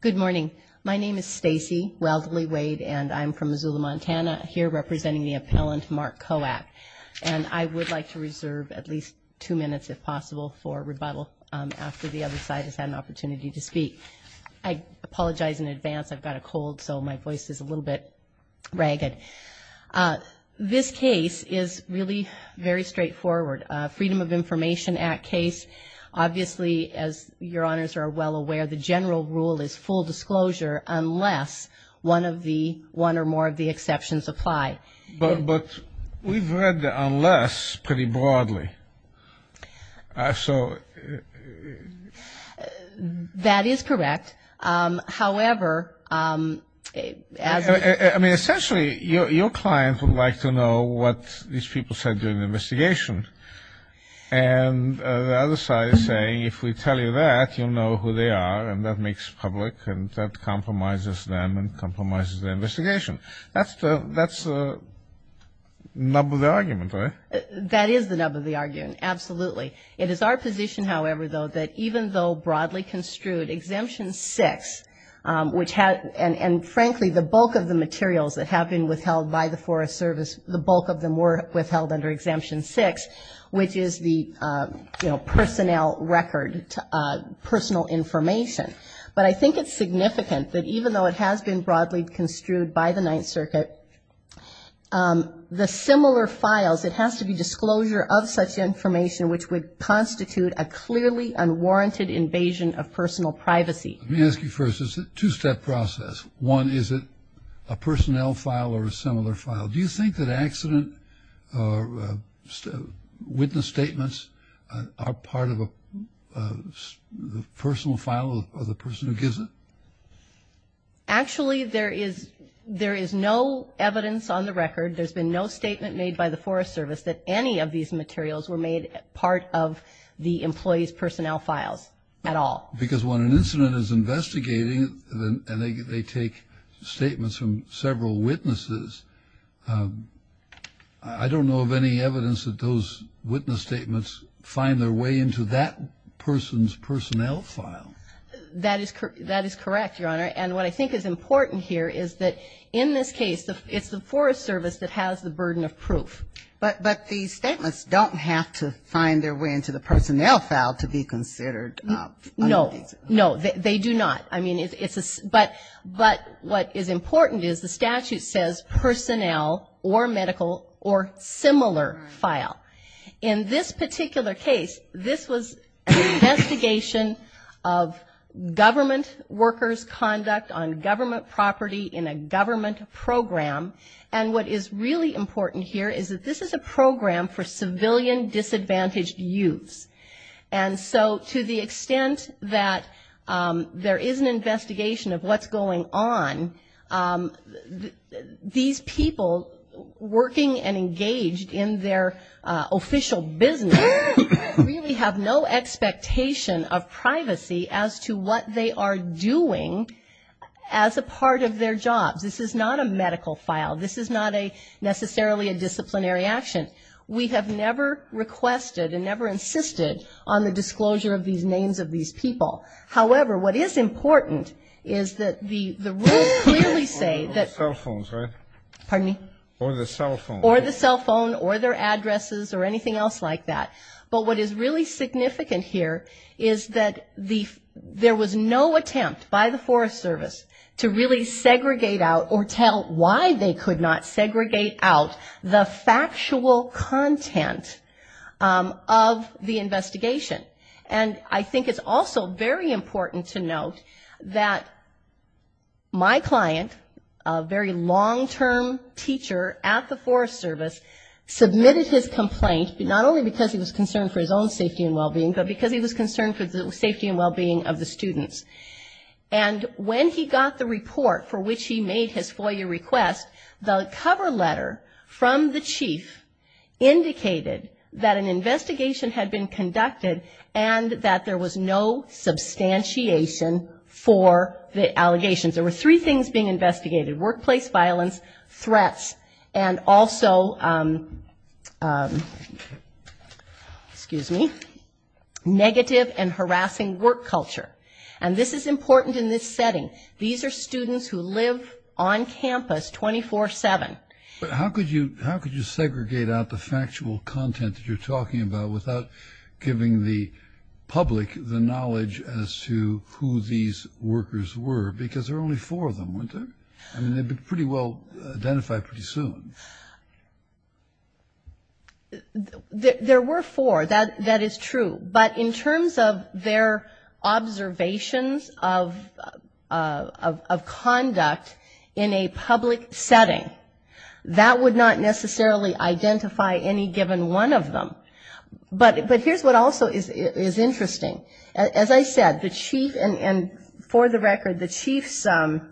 Good morning. My name is Stacey Weldly Wade and I'm from Missoula, Montana Here representing the appellant Mark Kowack and I would like to reserve at least two minutes if possible for rebuttal After the other side has had an opportunity to speak. I Apologize in advance. I've got a cold. So my voice is a little bit ragged This case is really very straightforward Freedom of Information Act case Obviously as your honors are well aware the general rule is full disclosure Unless one of the one or more of the exceptions apply, but but we've read the unless pretty broadly So That is correct however, I mean essentially your client would like to know what these people said during the investigation and The other side is saying if we tell you that you know who they are and that makes public and that compromises them and compromises the investigation, that's the that's the nub of the argument That is the nub of the argument. Absolutely. It is our position. However, though that even though broadly construed exemption six Which had and and frankly the bulk of the materials that have been withheld by the Forest Service the bulk of them were withheld under exemption six, which is the personnel record Personal information, but I think it's significant that even though it has been broadly construed by the Ninth Circuit The similar files it has to be disclosure of such information which would constitute a clearly unwarranted Invasion of personal privacy. Let me ask you first. Is it two-step process one? Is it a personnel file or a similar file? Do you think that accident? Or Witness statements are part of a Personal file of the person who gives it Actually, there is there is no evidence on the record There's been no statement made by the Forest Service that any of these materials were made part of the employees personnel files At all because when an incident is investigating then and they take statements from several witnesses I don't know of any evidence that those witness statements find their way into that person's personnel file That is correct. That is correct, Your Honor And what I think is important here is that in this case the it's the Forest Service that has the burden of proof But but these statements don't have to find their way into the personnel file to be considered No, no, they do not I mean, it's a but but what is important is the statute says Personnel or medical or similar file in this particular case. This was investigation of government workers conduct on government property in a government program and what is really important here is that this is a program for civilian disadvantaged youths and so to the extent that There is an investigation of what's going on These people working and engaged in their official business Really have no expectation of privacy as to what they are doing as a part of their jobs This is not a medical file. This is not a Necessarily a disciplinary action. We have never requested and never insisted on the disclosure of these names of these people However, what is important is that the the rules clearly say that Pardon me or the cell phone or the cell phone or their addresses or anything else like that but what is really significant here is that the There was no attempt by the Forest Service to really segregate out or tell why they could not segregate out the factual content Of the investigation and I think it's also very important to note that My client a very long-term teacher at the Forest Service submitted his complaint but not only because he was concerned for his own safety and well-being but because he was concerned for the safety and well-being of the students and When he got the report for which he made his FOIA request the cover letter from the chief Indicated that an investigation had been conducted and that there was no Substantiation for the allegations. There were three things being investigated workplace violence threats and also Excuse me Negative and harassing work culture and this is important in this setting. These are students who live on campus 24-7, but how could you how could you segregate out the factual content that you're talking about without giving the Public the knowledge as to who these workers were because there are only four of them winter I mean, they'd be pretty well identified pretty soon There were four that that is true, but in terms of their observations of Conduct in a public setting that would not necessarily identify any given one of them But but here's what also is is interesting. As I said the chief and for the record the chief's The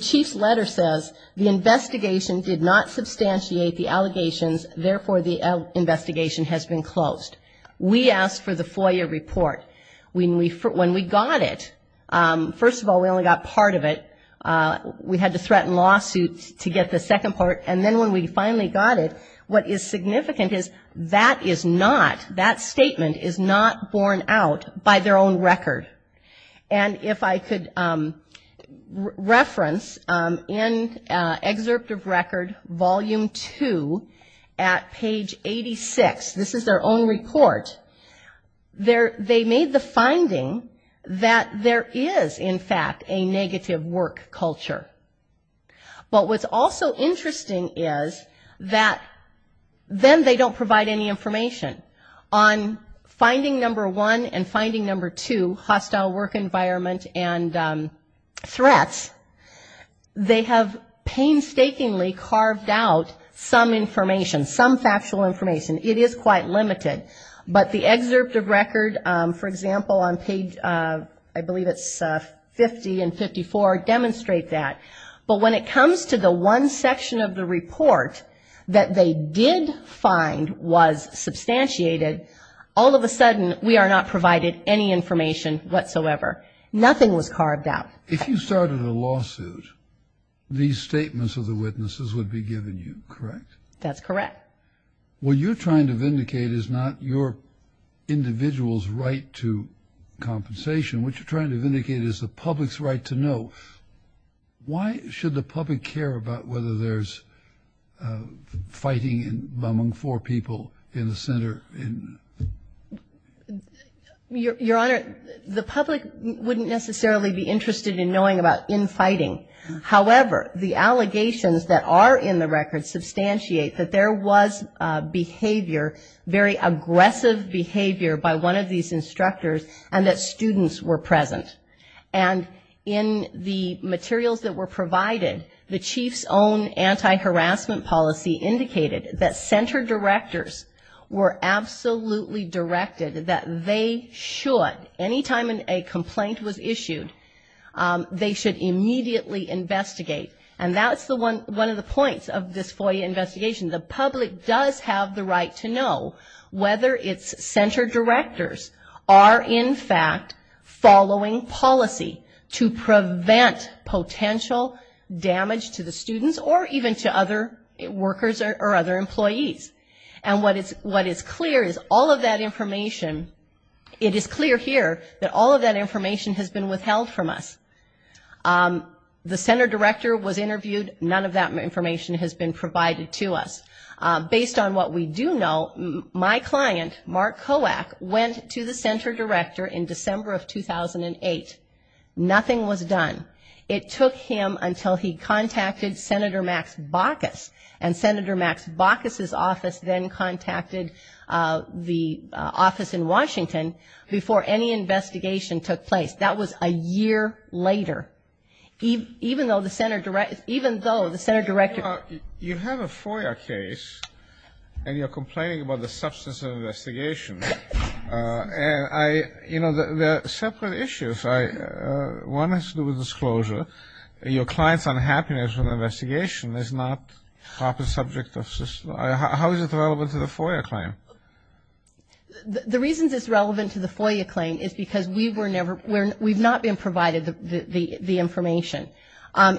chief's letter says the investigation did not substantiate the allegations. Therefore the Investigation has been closed. We asked for the FOIA report when we when we got it First of all, we only got part of it We had to threaten lawsuits to get the second part And then when we finally got it what is significant is that is not that statement is not borne out by their own record and if I could Reference in Excerpt of record volume 2 at page 86. This is their own report There they made the finding that there is in fact a negative work culture but what's also interesting is that Then they don't provide any information on finding number one and finding number two hostile work environment and threats They have painstakingly carved out some information some factual information It is quite limited, but the excerpt of record for example on page I believe it's 50 and 54 demonstrate that but when it comes to the one section of the report that they did find was Substantiated all of a sudden we are not provided any information whatsoever Nothing was carved out if you started a lawsuit These statements of the witnesses would be given you correct. That's correct What you're trying to vindicate is not your individuals right to Compensation what you're trying to vindicate is the public's right to know Why should the public care about whether there's? Fighting and bumming for people in the center in Your honor the public wouldn't necessarily be interested in knowing about in fighting However, the allegations that are in the record substantiate that there was behavior very aggressive behavior by one of these instructors and that students were present and In the materials that were provided the chief's own anti-harassment policy indicated that center directors were Absolutely directed that they should anytime in a complaint was issued They should immediately Investigate and that's the one one of the points of this FOIA investigation The public does have the right to know whether it's center directors are in fact following policy to prevent potential damage to the students or even to other Workers or other employees and what it's what is clear is all of that information It is clear here that all of that information has been withheld from us The center director was interviewed. None of that information has been provided to us Based on what we do know my client Mark Kowak went to the center director in December of 2008 Nothing was done. It took him until he contacted Senator Max Bacchus and Senator Max Bacchus his office then contacted The office in Washington before any investigation took place. That was a year later Even even though the center direct even though the center director you have a FOIA case And you're complaining about the substance of investigation And I you know the separate issues I One has to do with disclosure Your clients unhappiness with investigation is not proper subject of system, how is it relevant to the FOIA claim? The reasons it's relevant to the FOIA claim is because we were never we're we've not been provided the the the information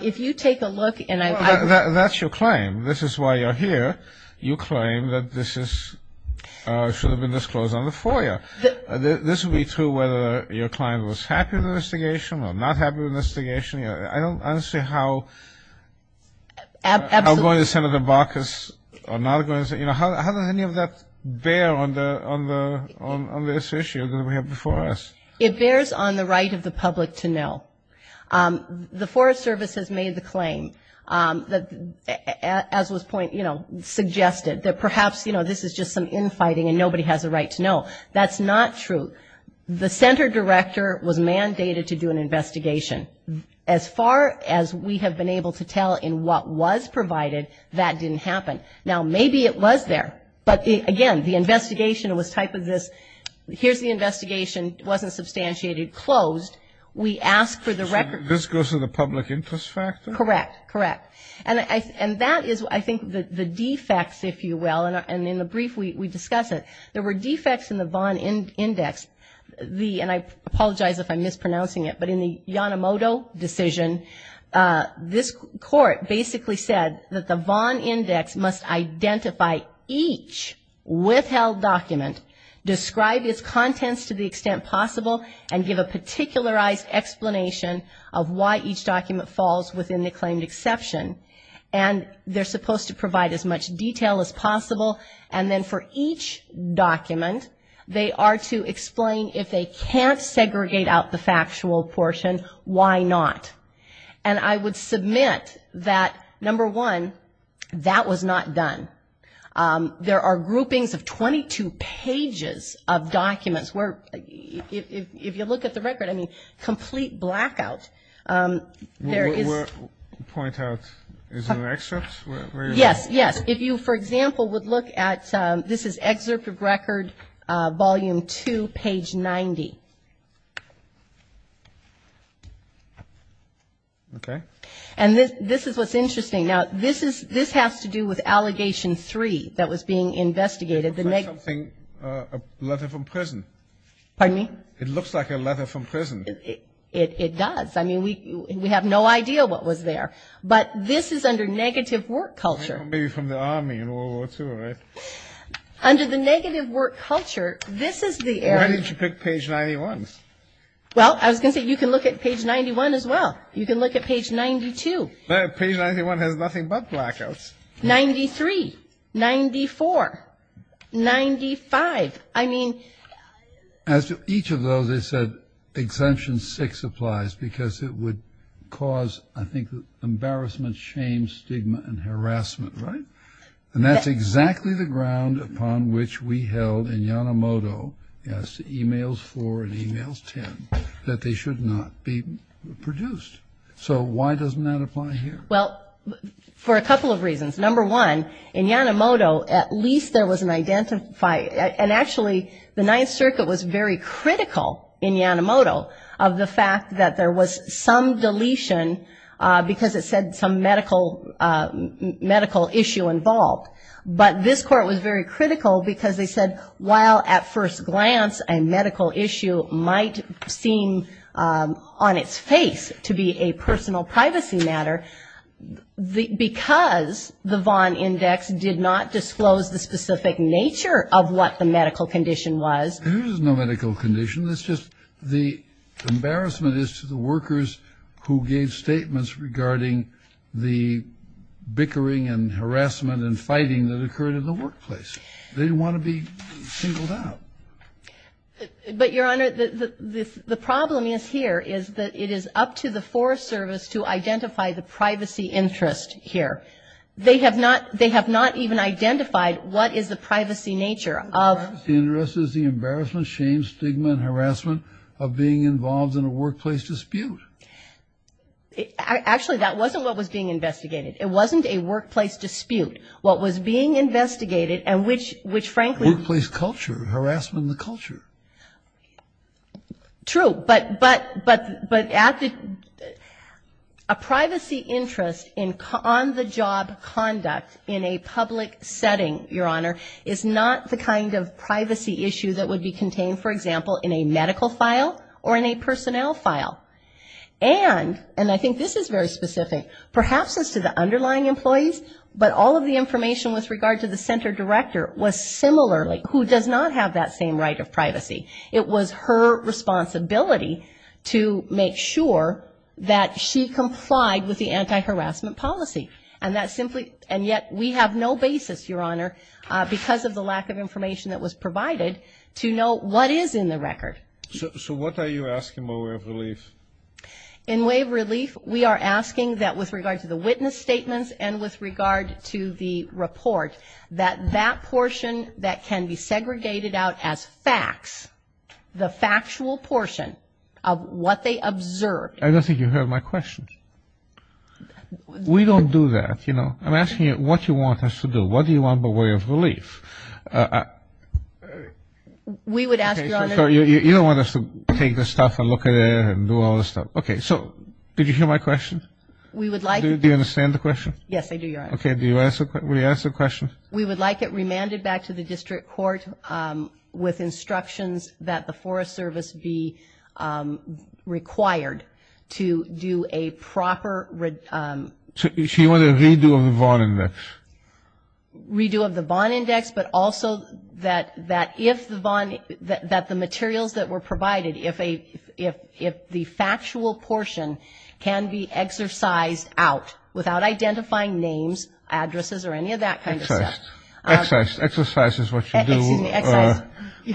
If you take a look and I that's your claim. This is why you're here. You claim that this is Should have been disclosed on the FOIA This would be true whether your client was happy with the investigation or not happy with the investigation, I don't see how Going to Senator Bacchus or not going to say, you know, how does any of that bear on the on the This issue that we have before us it bears on the right of the public to know The Forest Service has made the claim that As was point, you know Suggested that perhaps, you know, this is just some infighting and nobody has a right to know that's not true the center director was mandated to do an investigation as Far as we have been able to tell in what was provided that didn't happen now Maybe it was there but again the investigation was type of this Here's the investigation wasn't substantiated closed. We asked for the record. This goes to the public interest factor Correct and I and that is I think the defects if you will and in the brief We discussed it there were defects in the Vaughn in index the and I apologize if I'm mispronouncing it, but in the Yanomoto decision This court basically said that the Vaughn index must identify each withheld document Describe its contents to the extent possible and give a particularized Explanation of why each document falls within the claimed exception and They're supposed to provide as much detail as possible and then for each Document they are to explain if they can't segregate out the factual portion Why not and I would submit that number one that was not done there are groupings of 22 pages of documents where If you look at the record, I mean complete blackout There is point out Yes, yes if you for example would look at this is excerpt of record volume 2 page 90 Okay, and this this is what's interesting now This is this has to do with allegation 3 that was being investigated the negative thing a letter from prison Pardon me. It looks like a letter from prison. It does. I mean we we have no idea What was there but this is under negative work culture maybe from the army in World War two, right? Under the negative work culture. This is the area to pick page 91 Well, I was gonna say you can look at page 91 as well. You can look at page 92 Well page 91 has nothing but blackouts 93 94 95 I mean As to each of those they said Exemption six applies because it would cause I think Embarrassment shame stigma and harassment, right? And that's exactly the ground upon which we held in Yanomoto Yes emails for and emails 10 that they should not be produced. So why doesn't that apply here? Well For a couple of reasons number one in Yanomoto at least there was an identify And actually the Ninth Circuit was very critical in Yanomoto of the fact that there was some deletion Because it said some medical medical issue involved But this court was very critical because they said while at first glance a medical issue might seem On its face to be a personal privacy matter The because the Vaughn index did not disclose the specific nature of what the medical condition was There's no medical condition. That's just the embarrassment is to the workers who gave statements regarding the Bickering and harassment and fighting that occurred in the workplace. They want to be singled out But your honor the Problem is here is that it is up to the Forest Service to identify the privacy interest here They have not they have not even identified. What is the privacy nature of? Interest is the embarrassment shame stigma and harassment of being involved in a workplace dispute Actually, that wasn't what was being investigated it wasn't a workplace dispute what was being investigated and which which frankly place culture harassment the culture True but but but but at the a privacy interest in con the job conduct in a public setting your honor is not the kind of Privacy issue that would be contained for example in a medical file or in a personnel file And and I think this is very specific perhaps as to the underlying employees But all of the information with regard to the center director was similarly who does not have that same right of privacy it was her Responsibility to make sure that she complied with the anti-harassment policy and that's simply and yet We have no basis your honor because of the lack of information that was provided to know what is in the record So what are you asking my way of relief in wave relief? We are asking that with regard to the witness statements and with regard to the report that that portion that can be segregated out as facts The factual portion of what they observed. I don't think you heard my questions We don't do that, you know, I'm asking you what you want us to do. What do you want the way of relief? I We would ask you you don't want us to take the stuff and look at it and do all the stuff Okay, so did you hear my question? We would like to understand the question. Yes. I do your okay Do you ask what we ask the question? We would like it remanded back to the district court with instructions that the Forest Service be Required to do a proper read She wanted me to involve in this Redo of the bond index but also that that if the bond that the materials that were provided if a if if the factual portion Can be exercised out without identifying names Addresses or any of that kind of test exercise exercise is what you do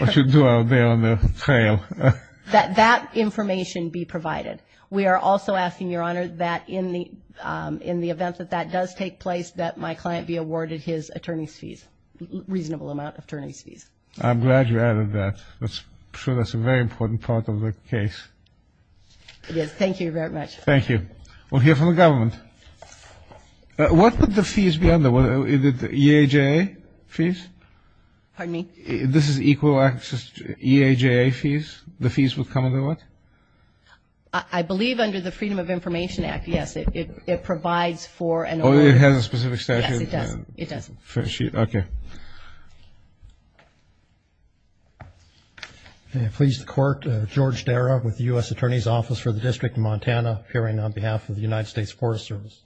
What you do out there on the trail that that information be provided We are also asking your honor that in the in the event that that does take place that my client be awarded his attorney's fees Reasonable amount of attorneys fees. I'm glad you added that that's true. That's a very important part of the case Yes, thank you very much. Thank you. We'll hear from the government What would the fees be under whether it did the EJ fees? Pardon me. This is equal access to EJ fees. The fees would come under what I Believe under the Freedom of Information Act. Yes, it provides for an oil. It has a specific It doesn't okay Please the court George Darragh with the US Attorney's Office for the District of Montana hearing on behalf of the United States Forest Service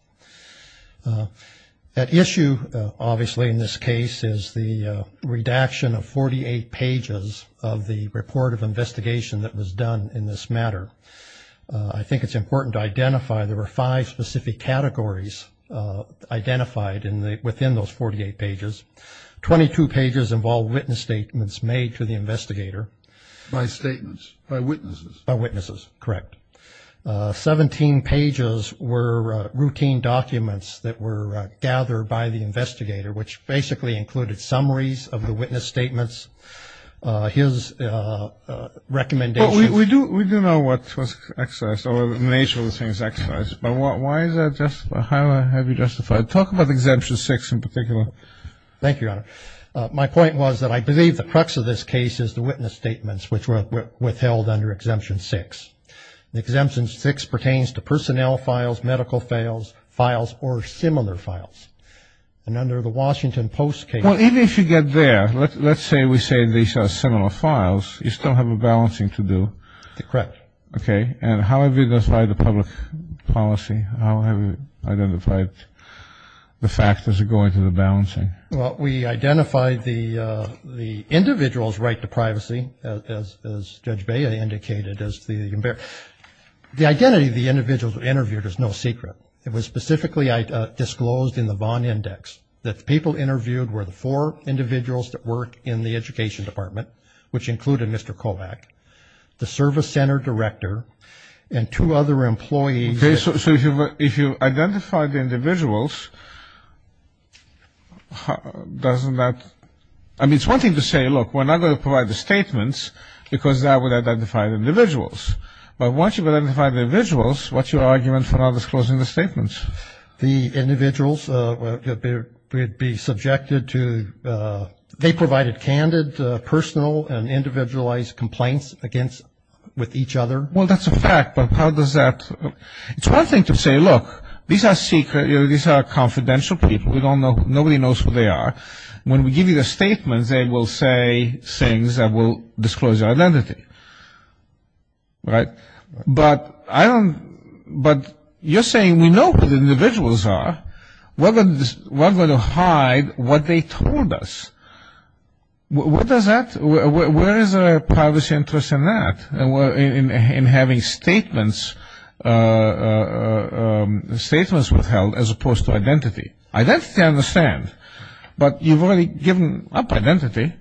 That issue obviously in this case is the Redaction of 48 pages of the report of investigation that was done in this matter I think it's important to identify there were five specific categories Identified in the within those 48 pages 22 pages of all witness statements made to the investigator by statements by witnesses by witnesses, correct 17 pages were routine documents that were gathered by the investigator which basically included summaries of the witness statements his Recommendation we do we do know what was excess or the nature of the things exercise But what why is that just a highlight? Have you justified talk about exemption six in particular? Thank you My point was that I believe the crux of this case is the witness statements which were withheld under exemption six The exemption six pertains to personnel files medical fails files or similar files And under the Washington Post cable, even if you get there, let's say we say these are similar files You still have a balancing to do the correct. Okay, and how have you decide the public? Policy, how have you identified? The factors are going to the balancing. Well, we identified the Individuals right to privacy as judge Bayer indicated as the embarrassed The identity of the individuals were interviewed is no secret It was specifically I disclosed in the Vaughn index that the people interviewed were the four Individuals that work in the Education Department Which included mr. Kovac the service center director and two other employees, okay So if you if you identify the individuals Doesn't that I mean it's one thing to say look we're not going to provide the statements because that would identify the individuals But once you've identified the visuals, what's your argument for not disclosing the statements the individuals? would be subjected to They provided candid personal and individualized complaints against with each other. Well, that's a fact. But how does that? It's one thing to say look these are secret. These are confidential people We don't know nobody knows who they are when we give you the statements. They will say things that will disclose your identity Right, but I don't but you're saying we know who the individuals are We're going to hide what they told us What does that where is a privacy interest in that and we're in having statements? Statements withheld as opposed to identity identity I understand, but you've already given up identity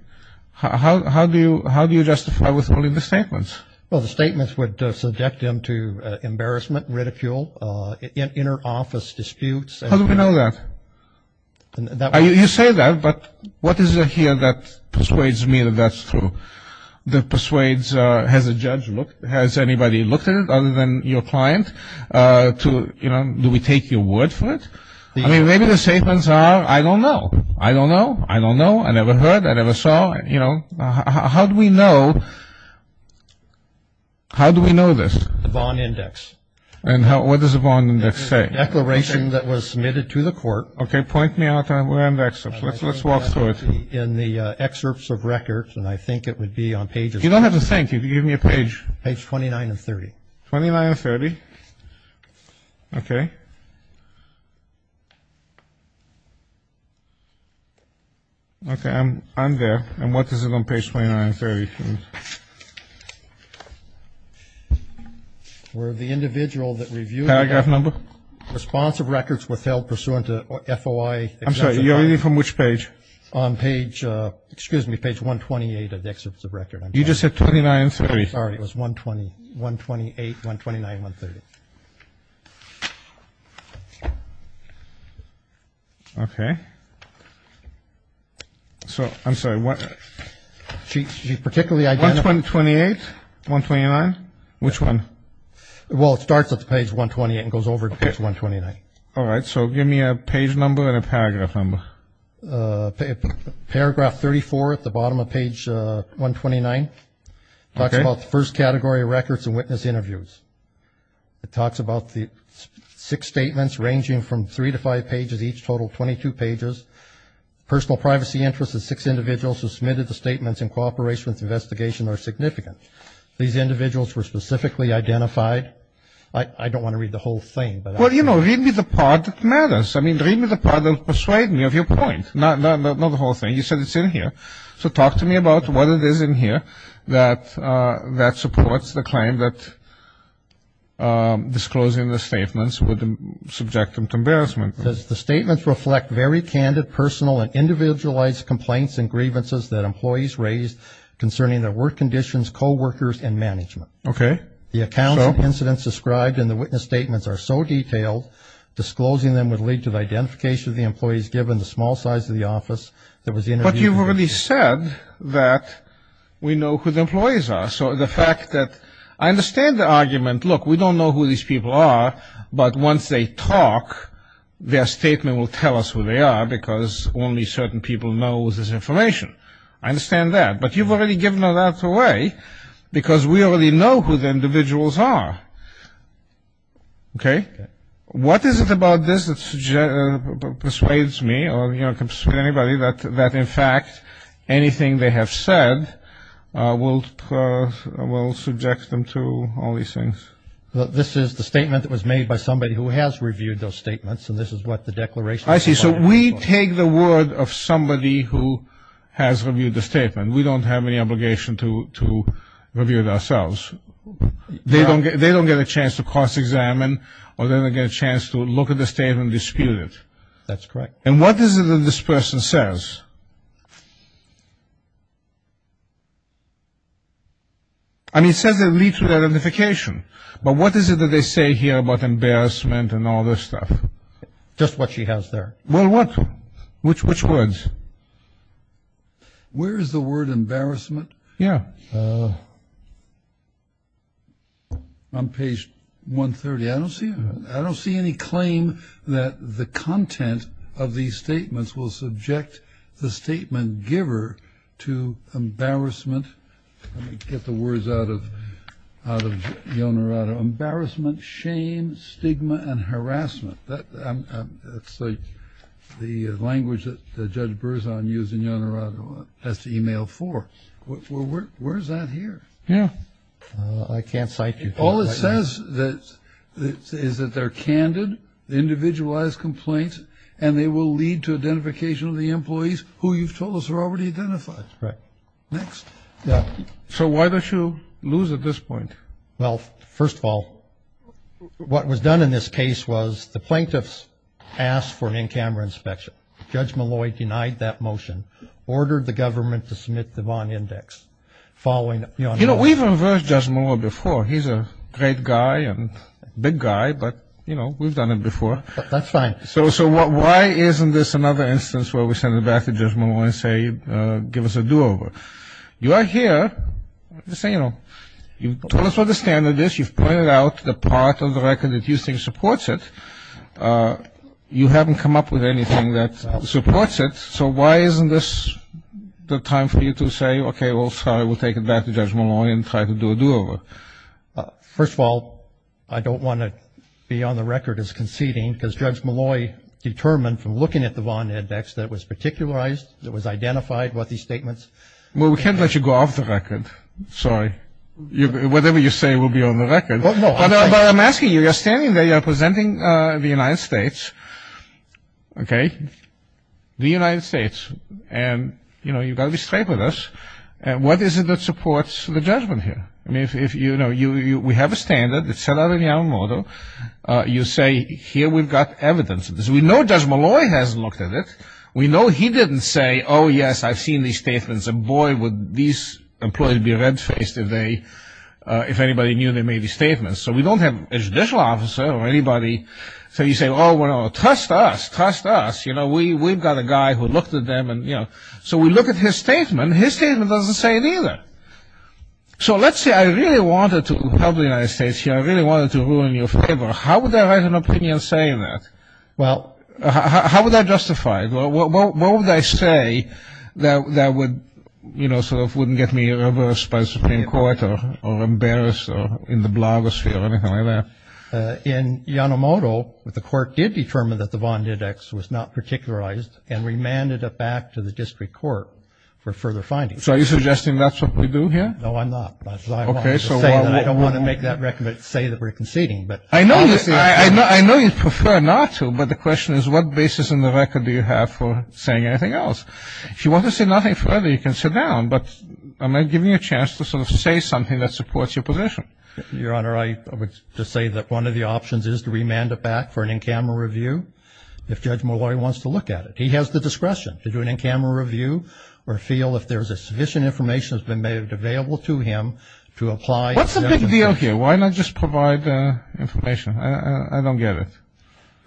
How do you how do you justify withholding the statements? Well, the statements would subject them to embarrassment ridicule Inner office disputes, how do we know that? You say that but what is it here that persuades me that that's true The persuades has a judge look has anybody looked at it other than your client To you know, do we take your word for it? I mean, maybe the statements are I don't know. I don't know I don't know. I never heard I never saw you know, how do we know? How do we know this the bond index and how what does the bond index a declaration that was submitted to the court Okay, point me out. We're in the excerpts. Let's let's walk through it in the excerpts of records And I think it would be on pages. You don't have to thank you to give me a page page 29 and 30 29 30 Okay Okay Okay, I'm I'm there and what does it on page 29 very Where the individual that review paragraph number Responsive records withheld pursuant to FOI. I'm sorry. You're reading from which page on page Excuse me page 128 of the excerpts of record. You just said 29 30. Sorry. It was 120 128 129 130 Okay So, I'm sorry what She's particularly I'd like 128 129 which one? Well, it starts at the page 128 and goes over to page 129. All right, so give me a page number and a paragraph number Paragraph 34 at the bottom of page 129 That's about the first category of records and witness interviews it talks about the Six statements ranging from three to five pages each total 22 pages Personal privacy interests of six individuals who submitted the statements in cooperation with investigation are significant These individuals were specifically identified. I don't want to read the whole thing But what do you know read me the part that matters? I mean read me the part of persuade me of your point No, not the whole thing. You said it's in here. So talk to me about what it is in here that that supports the claim that Disclosing the statements with the subject of embarrassment Does the statements reflect very candid personal and individualized complaints and grievances that employees raised? Concerning their work conditions co-workers and management. Okay, the account of incidents described in the witness statements are so detailed Disclosing them would lead to the identification of the employees given the small size of the office. There was in what you've already said that We know who the employees are so the fact that I understand the argument look we don't know who these people are But once they talk Their statement will tell us who they are because only certain people know this information. I understand that but you've already given that away Because we already know who the individuals are Okay, what is it about this that Persuades me or you know comes to anybody that that in fact Anything they have said will Will subject them to all these things This is the statement that was made by somebody who has reviewed those statements and this is what the declaration I see So we take the word of somebody who has reviewed the statement. We don't have any obligation to to review it ourselves They don't get they don't get a chance to cross-examine or then again a chance to look at the statement dispute it That's correct. And what is it that this person says? I Mean says that lead to identification But what is it that they say here about embarrassment and all this stuff? Just what she has there. Well, what which which words? Where is the word embarrassment? Yeah I'm page 130 I don't see I don't see any claim that the content of these statements will subject the statement giver to embarrassment Get the words out of out of the owner out of embarrassment shame stigma and harassment that The language that the judge burrs on using your honor on has to email for Where's that here? Yeah, I can't cite you. All it says that Is that they're candid? Individualized complaints and they will lead to identification of the employees who you've told us are already identified, right next So why don't you lose at this point? Well, first of all What was done in this case was the plaintiffs asked for an in-camera inspection judge Malloy denied that motion Ordered the government to submit the bond index Following you know, we've reversed just more before he's a great guy and big guy You know, we've done it before that's fine So so what why isn't this another instance where we send it back to just more and say give us a do-over You are here Just saying, you know, you told us what the standard is. You've pointed out the part of the record that you think supports it You haven't come up with anything that supports it. So why isn't this? The time for you to say, okay. Well, sorry, we'll take it back to judge Malloy and try to do a do-over First of all, I don't want to be on the record as conceding because judge Malloy Determined from looking at the bond index that was particularized that was identified what these statements well, we can't let you go off the record Sorry, you whatever you say will be on the record. I'm asking you you're standing there. You're presenting the United States Okay The United States and you know, you've got to be straight with us and what is it that supports the judgment here? I mean if you know you we have a standard that's set out in Yamamoto You say here we've got evidence of this. We know judge Malloy hasn't looked at it. We know he didn't say Oh, yes, I've seen these statements and boy would these employees be red-faced if they If anybody knew they made these statements, so we don't have a judicial officer or anybody So you say well, we're all trust us trust us, you know We we've got a guy who looked at them and you know, so we look at his statement. His statement doesn't say it either So, let's say I really wanted to help the United States here I really wanted to ruin your favor How would I write an opinion saying that well, how would that justify? Well, what would I say that that would you know? So it wouldn't get me reversed by Supreme Court or or embarrassed or in the blogosphere or anything like that In Yamamoto with the court did determine that the bond index was not Here Say that we're conceding but I know I know I know you prefer not to but the question is what basis in the record Do you have for saying anything else? If you want to say nothing further you can sit down But am I giving you a chance to sort of say something that supports your position your honor? I would just say that one of the options is to remand it back for an in-camera review If judge Malloy wants to look at it He has the discretion to do an in-camera review or feel if there's a sufficient information has been made available to him to apply What's the big deal here? Why not? Just provide the information. I don't get it.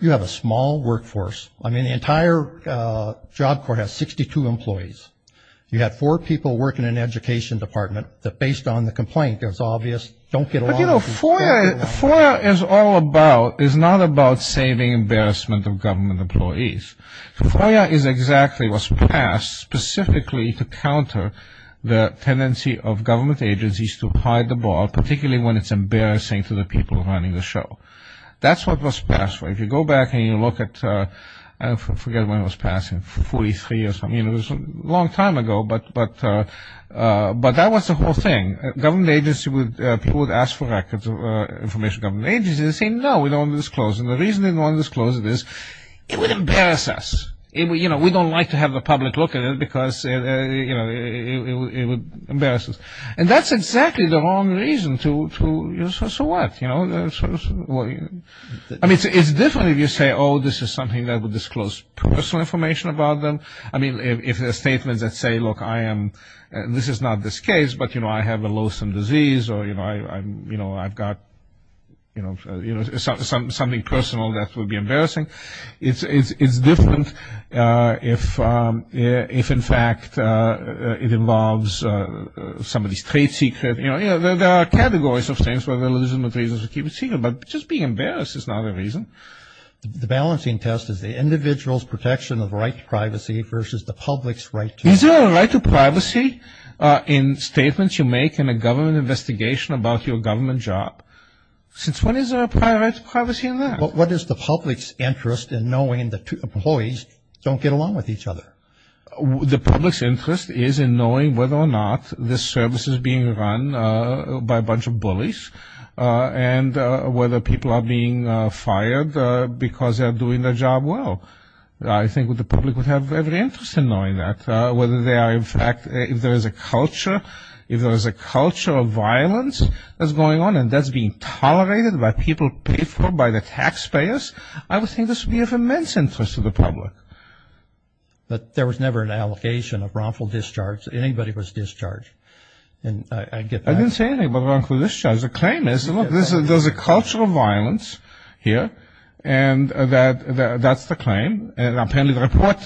You have a small workforce. I mean the entire Job Corps has 62 employees You had four people working in education department that based on the complaint is obvious Don't get a little for it for is all about is not about saving embarrassment of government employees Foyer is exactly what's passed specifically to counter the tendency of government agencies to hide the ball Particularly when it's embarrassing to the people running the show. That's what was passed way if you go back and you look at Forget when I was passing 43 years. I mean it was a long time ago, but but But that was the whole thing government agency with people would ask for records of information government agency No, we don't disclose and the reason didn't want to disclose it is it would embarrass us if we you know, we don't like to have the public look at it because Embarrasses and that's exactly the wrong reason to so what you know, I Mean it's different if you say oh, this is something that would disclose personal information about them I mean if their statements that say look I am and this is not this case But you know, I have a loathsome disease or you know, I'm you know, I've got You know, you know something something personal that would be embarrassing. It's it's it's different if if in fact it involves Somebody's trade secret, you know, there are categories of things for religion with reasons to keep it secret, but just being embarrassed It's not a reason the balancing test is the individual's protection of right privacy versus the public's right. Is there a right to privacy? In statements you make in a government investigation about your government job Since when is there a private privacy in there? What is the public's interest in knowing that two employees don't get along with each other? The public's interest is in knowing whether or not this service is being run by a bunch of bullies And whether people are being fired because they're doing their job Well, I think what the public would have every interest in knowing that whether they are If there is a culture if there is a culture of violence that's going on and that's being Tolerated by people paid for by the taxpayers. I would think this would be of immense interest to the public But there was never an allocation of wrongful discharge. Anybody was discharged and The claim is there's a culture of violence here and That that's the claim and apparently the report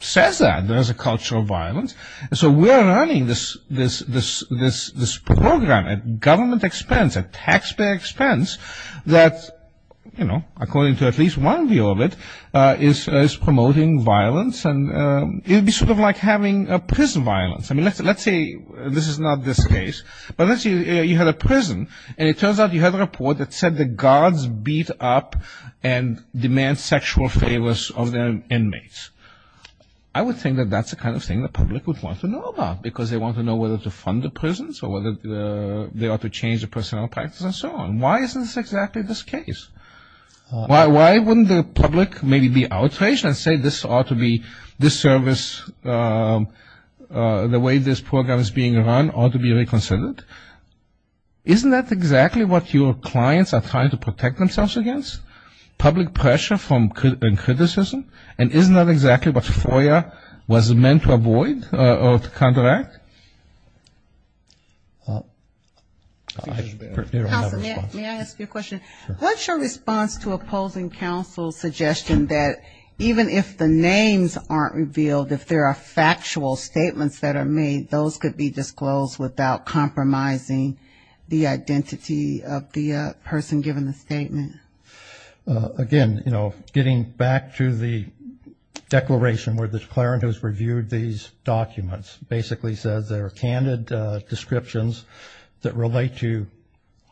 Says that there is a culture of violence and so we're running this this this this this program at government expense at taxpayer expense that You know according to at least one view of it is is promoting violence and it'd be sort of like having a prison violence I mean, let's let's say this is not this case but unless you had a prison and it turns out you had a report that said the guards beat up and I would think that that's the kind of thing the public would want to know about because they want to know whether to fund The prisons or whether they ought to change the personnel practice and so on. Why is this exactly this case? Why why wouldn't the public maybe be outraged and say this ought to be this service? The way this program is being run ought to be reconsidered Isn't that exactly what your clients are trying to protect themselves against? Public pressure from criticism and isn't that exactly what FOIA was meant to avoid or to counteract? What's your response to opposing counsel's suggestion that even if the names aren't revealed if there are factual statements that are made those could be disclosed without compromising the identity of the person given the statement again, you know getting back to the Declaration where the declarant who's reviewed these documents basically says there are candid descriptions that relate to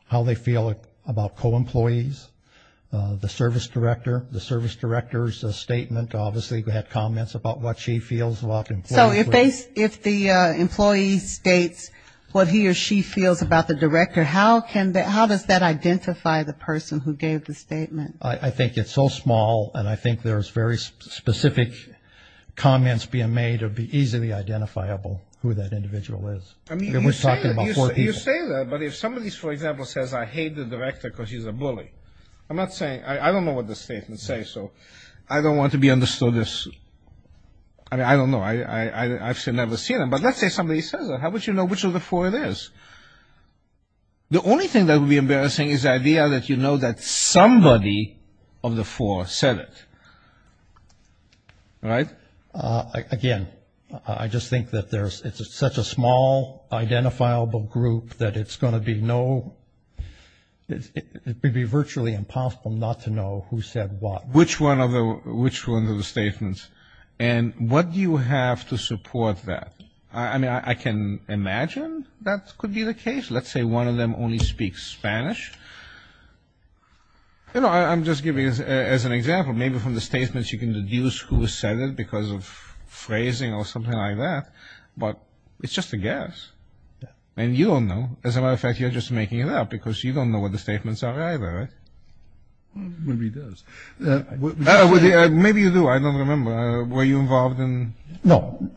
How they feel about co-employees The service director the service directors a statement obviously we had comments about what she feels a lot So if they if the employee states what he or she feels about the director How does that identify the person who gave the statement I think it's so small and I think there's very specific Comments being made or be easily identifiable who that individual is But if somebody's for example says I hate the director because he's a bully I'm not saying I don't know what the statement say. So I don't want to be understood this I Mean, I don't know. I I've said never seen him. But let's say somebody says how would you know, which of the four it is? The only thing that would be embarrassing is idea that you know that somebody of the four said it Right Again, I just think that there's it's such a small Identifiable group that it's going to be no It would be virtually impossible not to know who said what which one of the which one of the statements and What do you have to support that? I mean I can imagine that could be the case Let's say one of them only speaks Spanish You know, I'm just giving as an example, maybe from the statements you can deduce who said it because of Phrasing or something like that, but it's just a guess And you don't know as a matter of fact, you're just making it up because you don't know what the statements are either Maybe you do I don't remember were you involved in no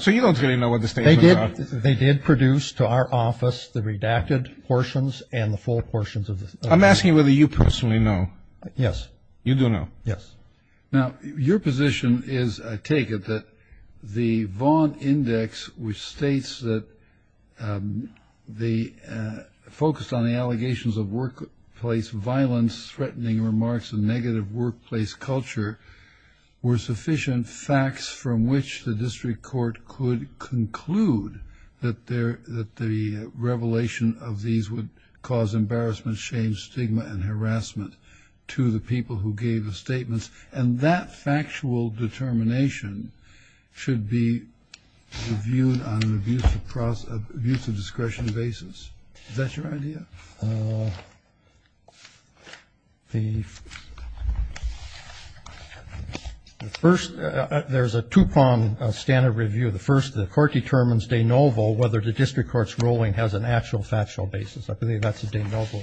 So you don't really know what this they did they did produce to our office the redacted portions and the full portions of this I'm asking whether you personally know. Yes, you do know. Yes now your position is I take it that the Vaughn index which states that the focused on the allegations of workplace violence threatening remarks and negative workplace culture Were sufficient facts from which the district court could conclude that there that the revelation of these would cause embarrassment shame stigma and harassment to the people who gave the statements and that factual determination should be Reviewed on abuse of process of use of discretion basis. Is that your idea? The First there's a Tupon standard review the first the court determines de novo whether the district courts ruling has an actual factual basis I believe that's a de novo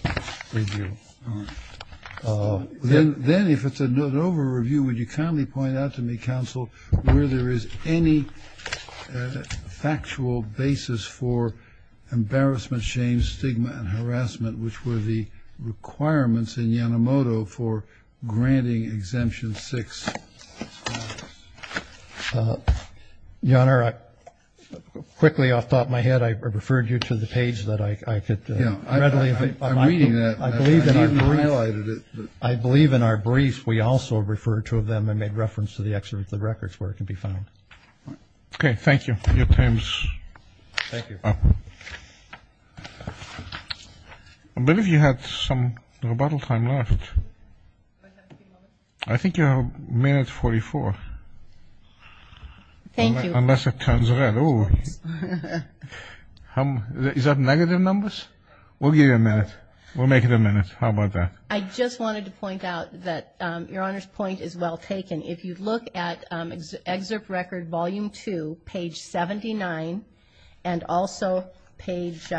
Then if it's a note over review would you kindly point out to me counsel where there is any Factual basis for embarrassment shame stigma and harassment which were the requirements in Yanomoto for Granting exemption six Your honor Quickly off the top of my head. I referred you to the page that I could I believe in our briefs. We also referred to them and made reference to the excerpt of the records where it can be found Okay. Thank you your claims But if you had some rebuttal time left I think you're a minute 44 Thank you, unless it turns around Um, is that negative numbers we'll give you a minute we'll make it a minute. How about that? I just wanted to point out that your honor's point is well taken if you look at excerpt record volume 2 page 79 and also page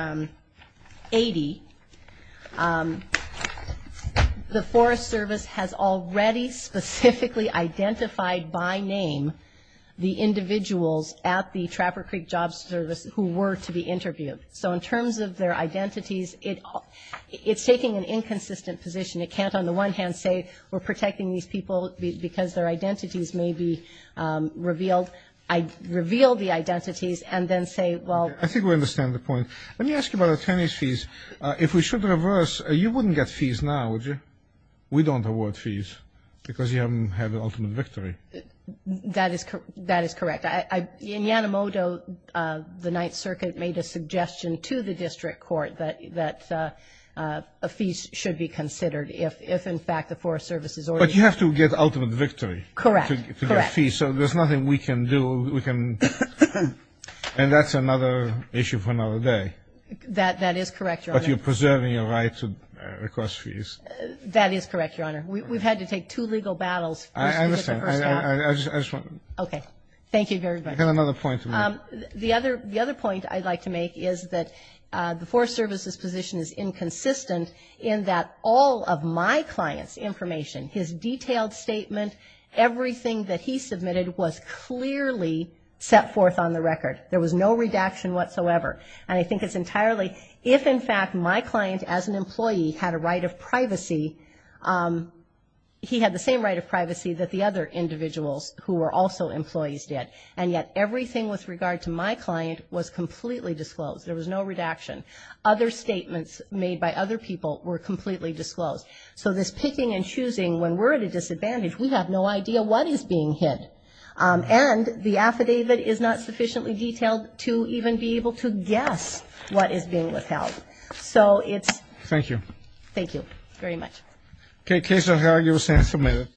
80 The Forest Service has already specifically identified by name The individuals at the Trapper Creek Job Service who were to be interviewed. So in terms of their identities it It's taking an inconsistent position. It can't on the one hand say we're protecting these people because their identities may be Revealed I reveal the identities and then say well, I think we understand the point Let me ask you about attorney's fees if we should reverse you wouldn't get fees now, would you we don't award fees? Because you haven't had an ultimate victory That is correct. That is correct. I in Yanomoto the Ninth Circuit made a suggestion to the district court that that a Fees should be considered if if in fact the Forest Service is or but you have to get ultimate victory, correct? You can see so there's nothing we can do we can And that's another issue for another day That that is correct, but you're preserving your right to request fees. That is correct, Your Honor We've had to take two legal battles Okay, thank you very much another point the other the other point I'd like to make is that The Forest Service's position is inconsistent in that all of my clients information his detailed statement Everything that he submitted was clearly set forth on the record There was no redaction whatsoever. And I think it's entirely if in fact my client as an employee had a right of privacy He had the same right of privacy that the other Individuals who were also employees did and yet everything with regard to my client was completely disclosed There was no redaction other statements made by other people were completely disclosed So this picking and choosing when we're at a disadvantage, we have no idea what is being hit And the affidavit is not sufficiently detailed to even be able to guess what is being withheld So it's thank you. Thank you very much. Okay case of how you were saying submitted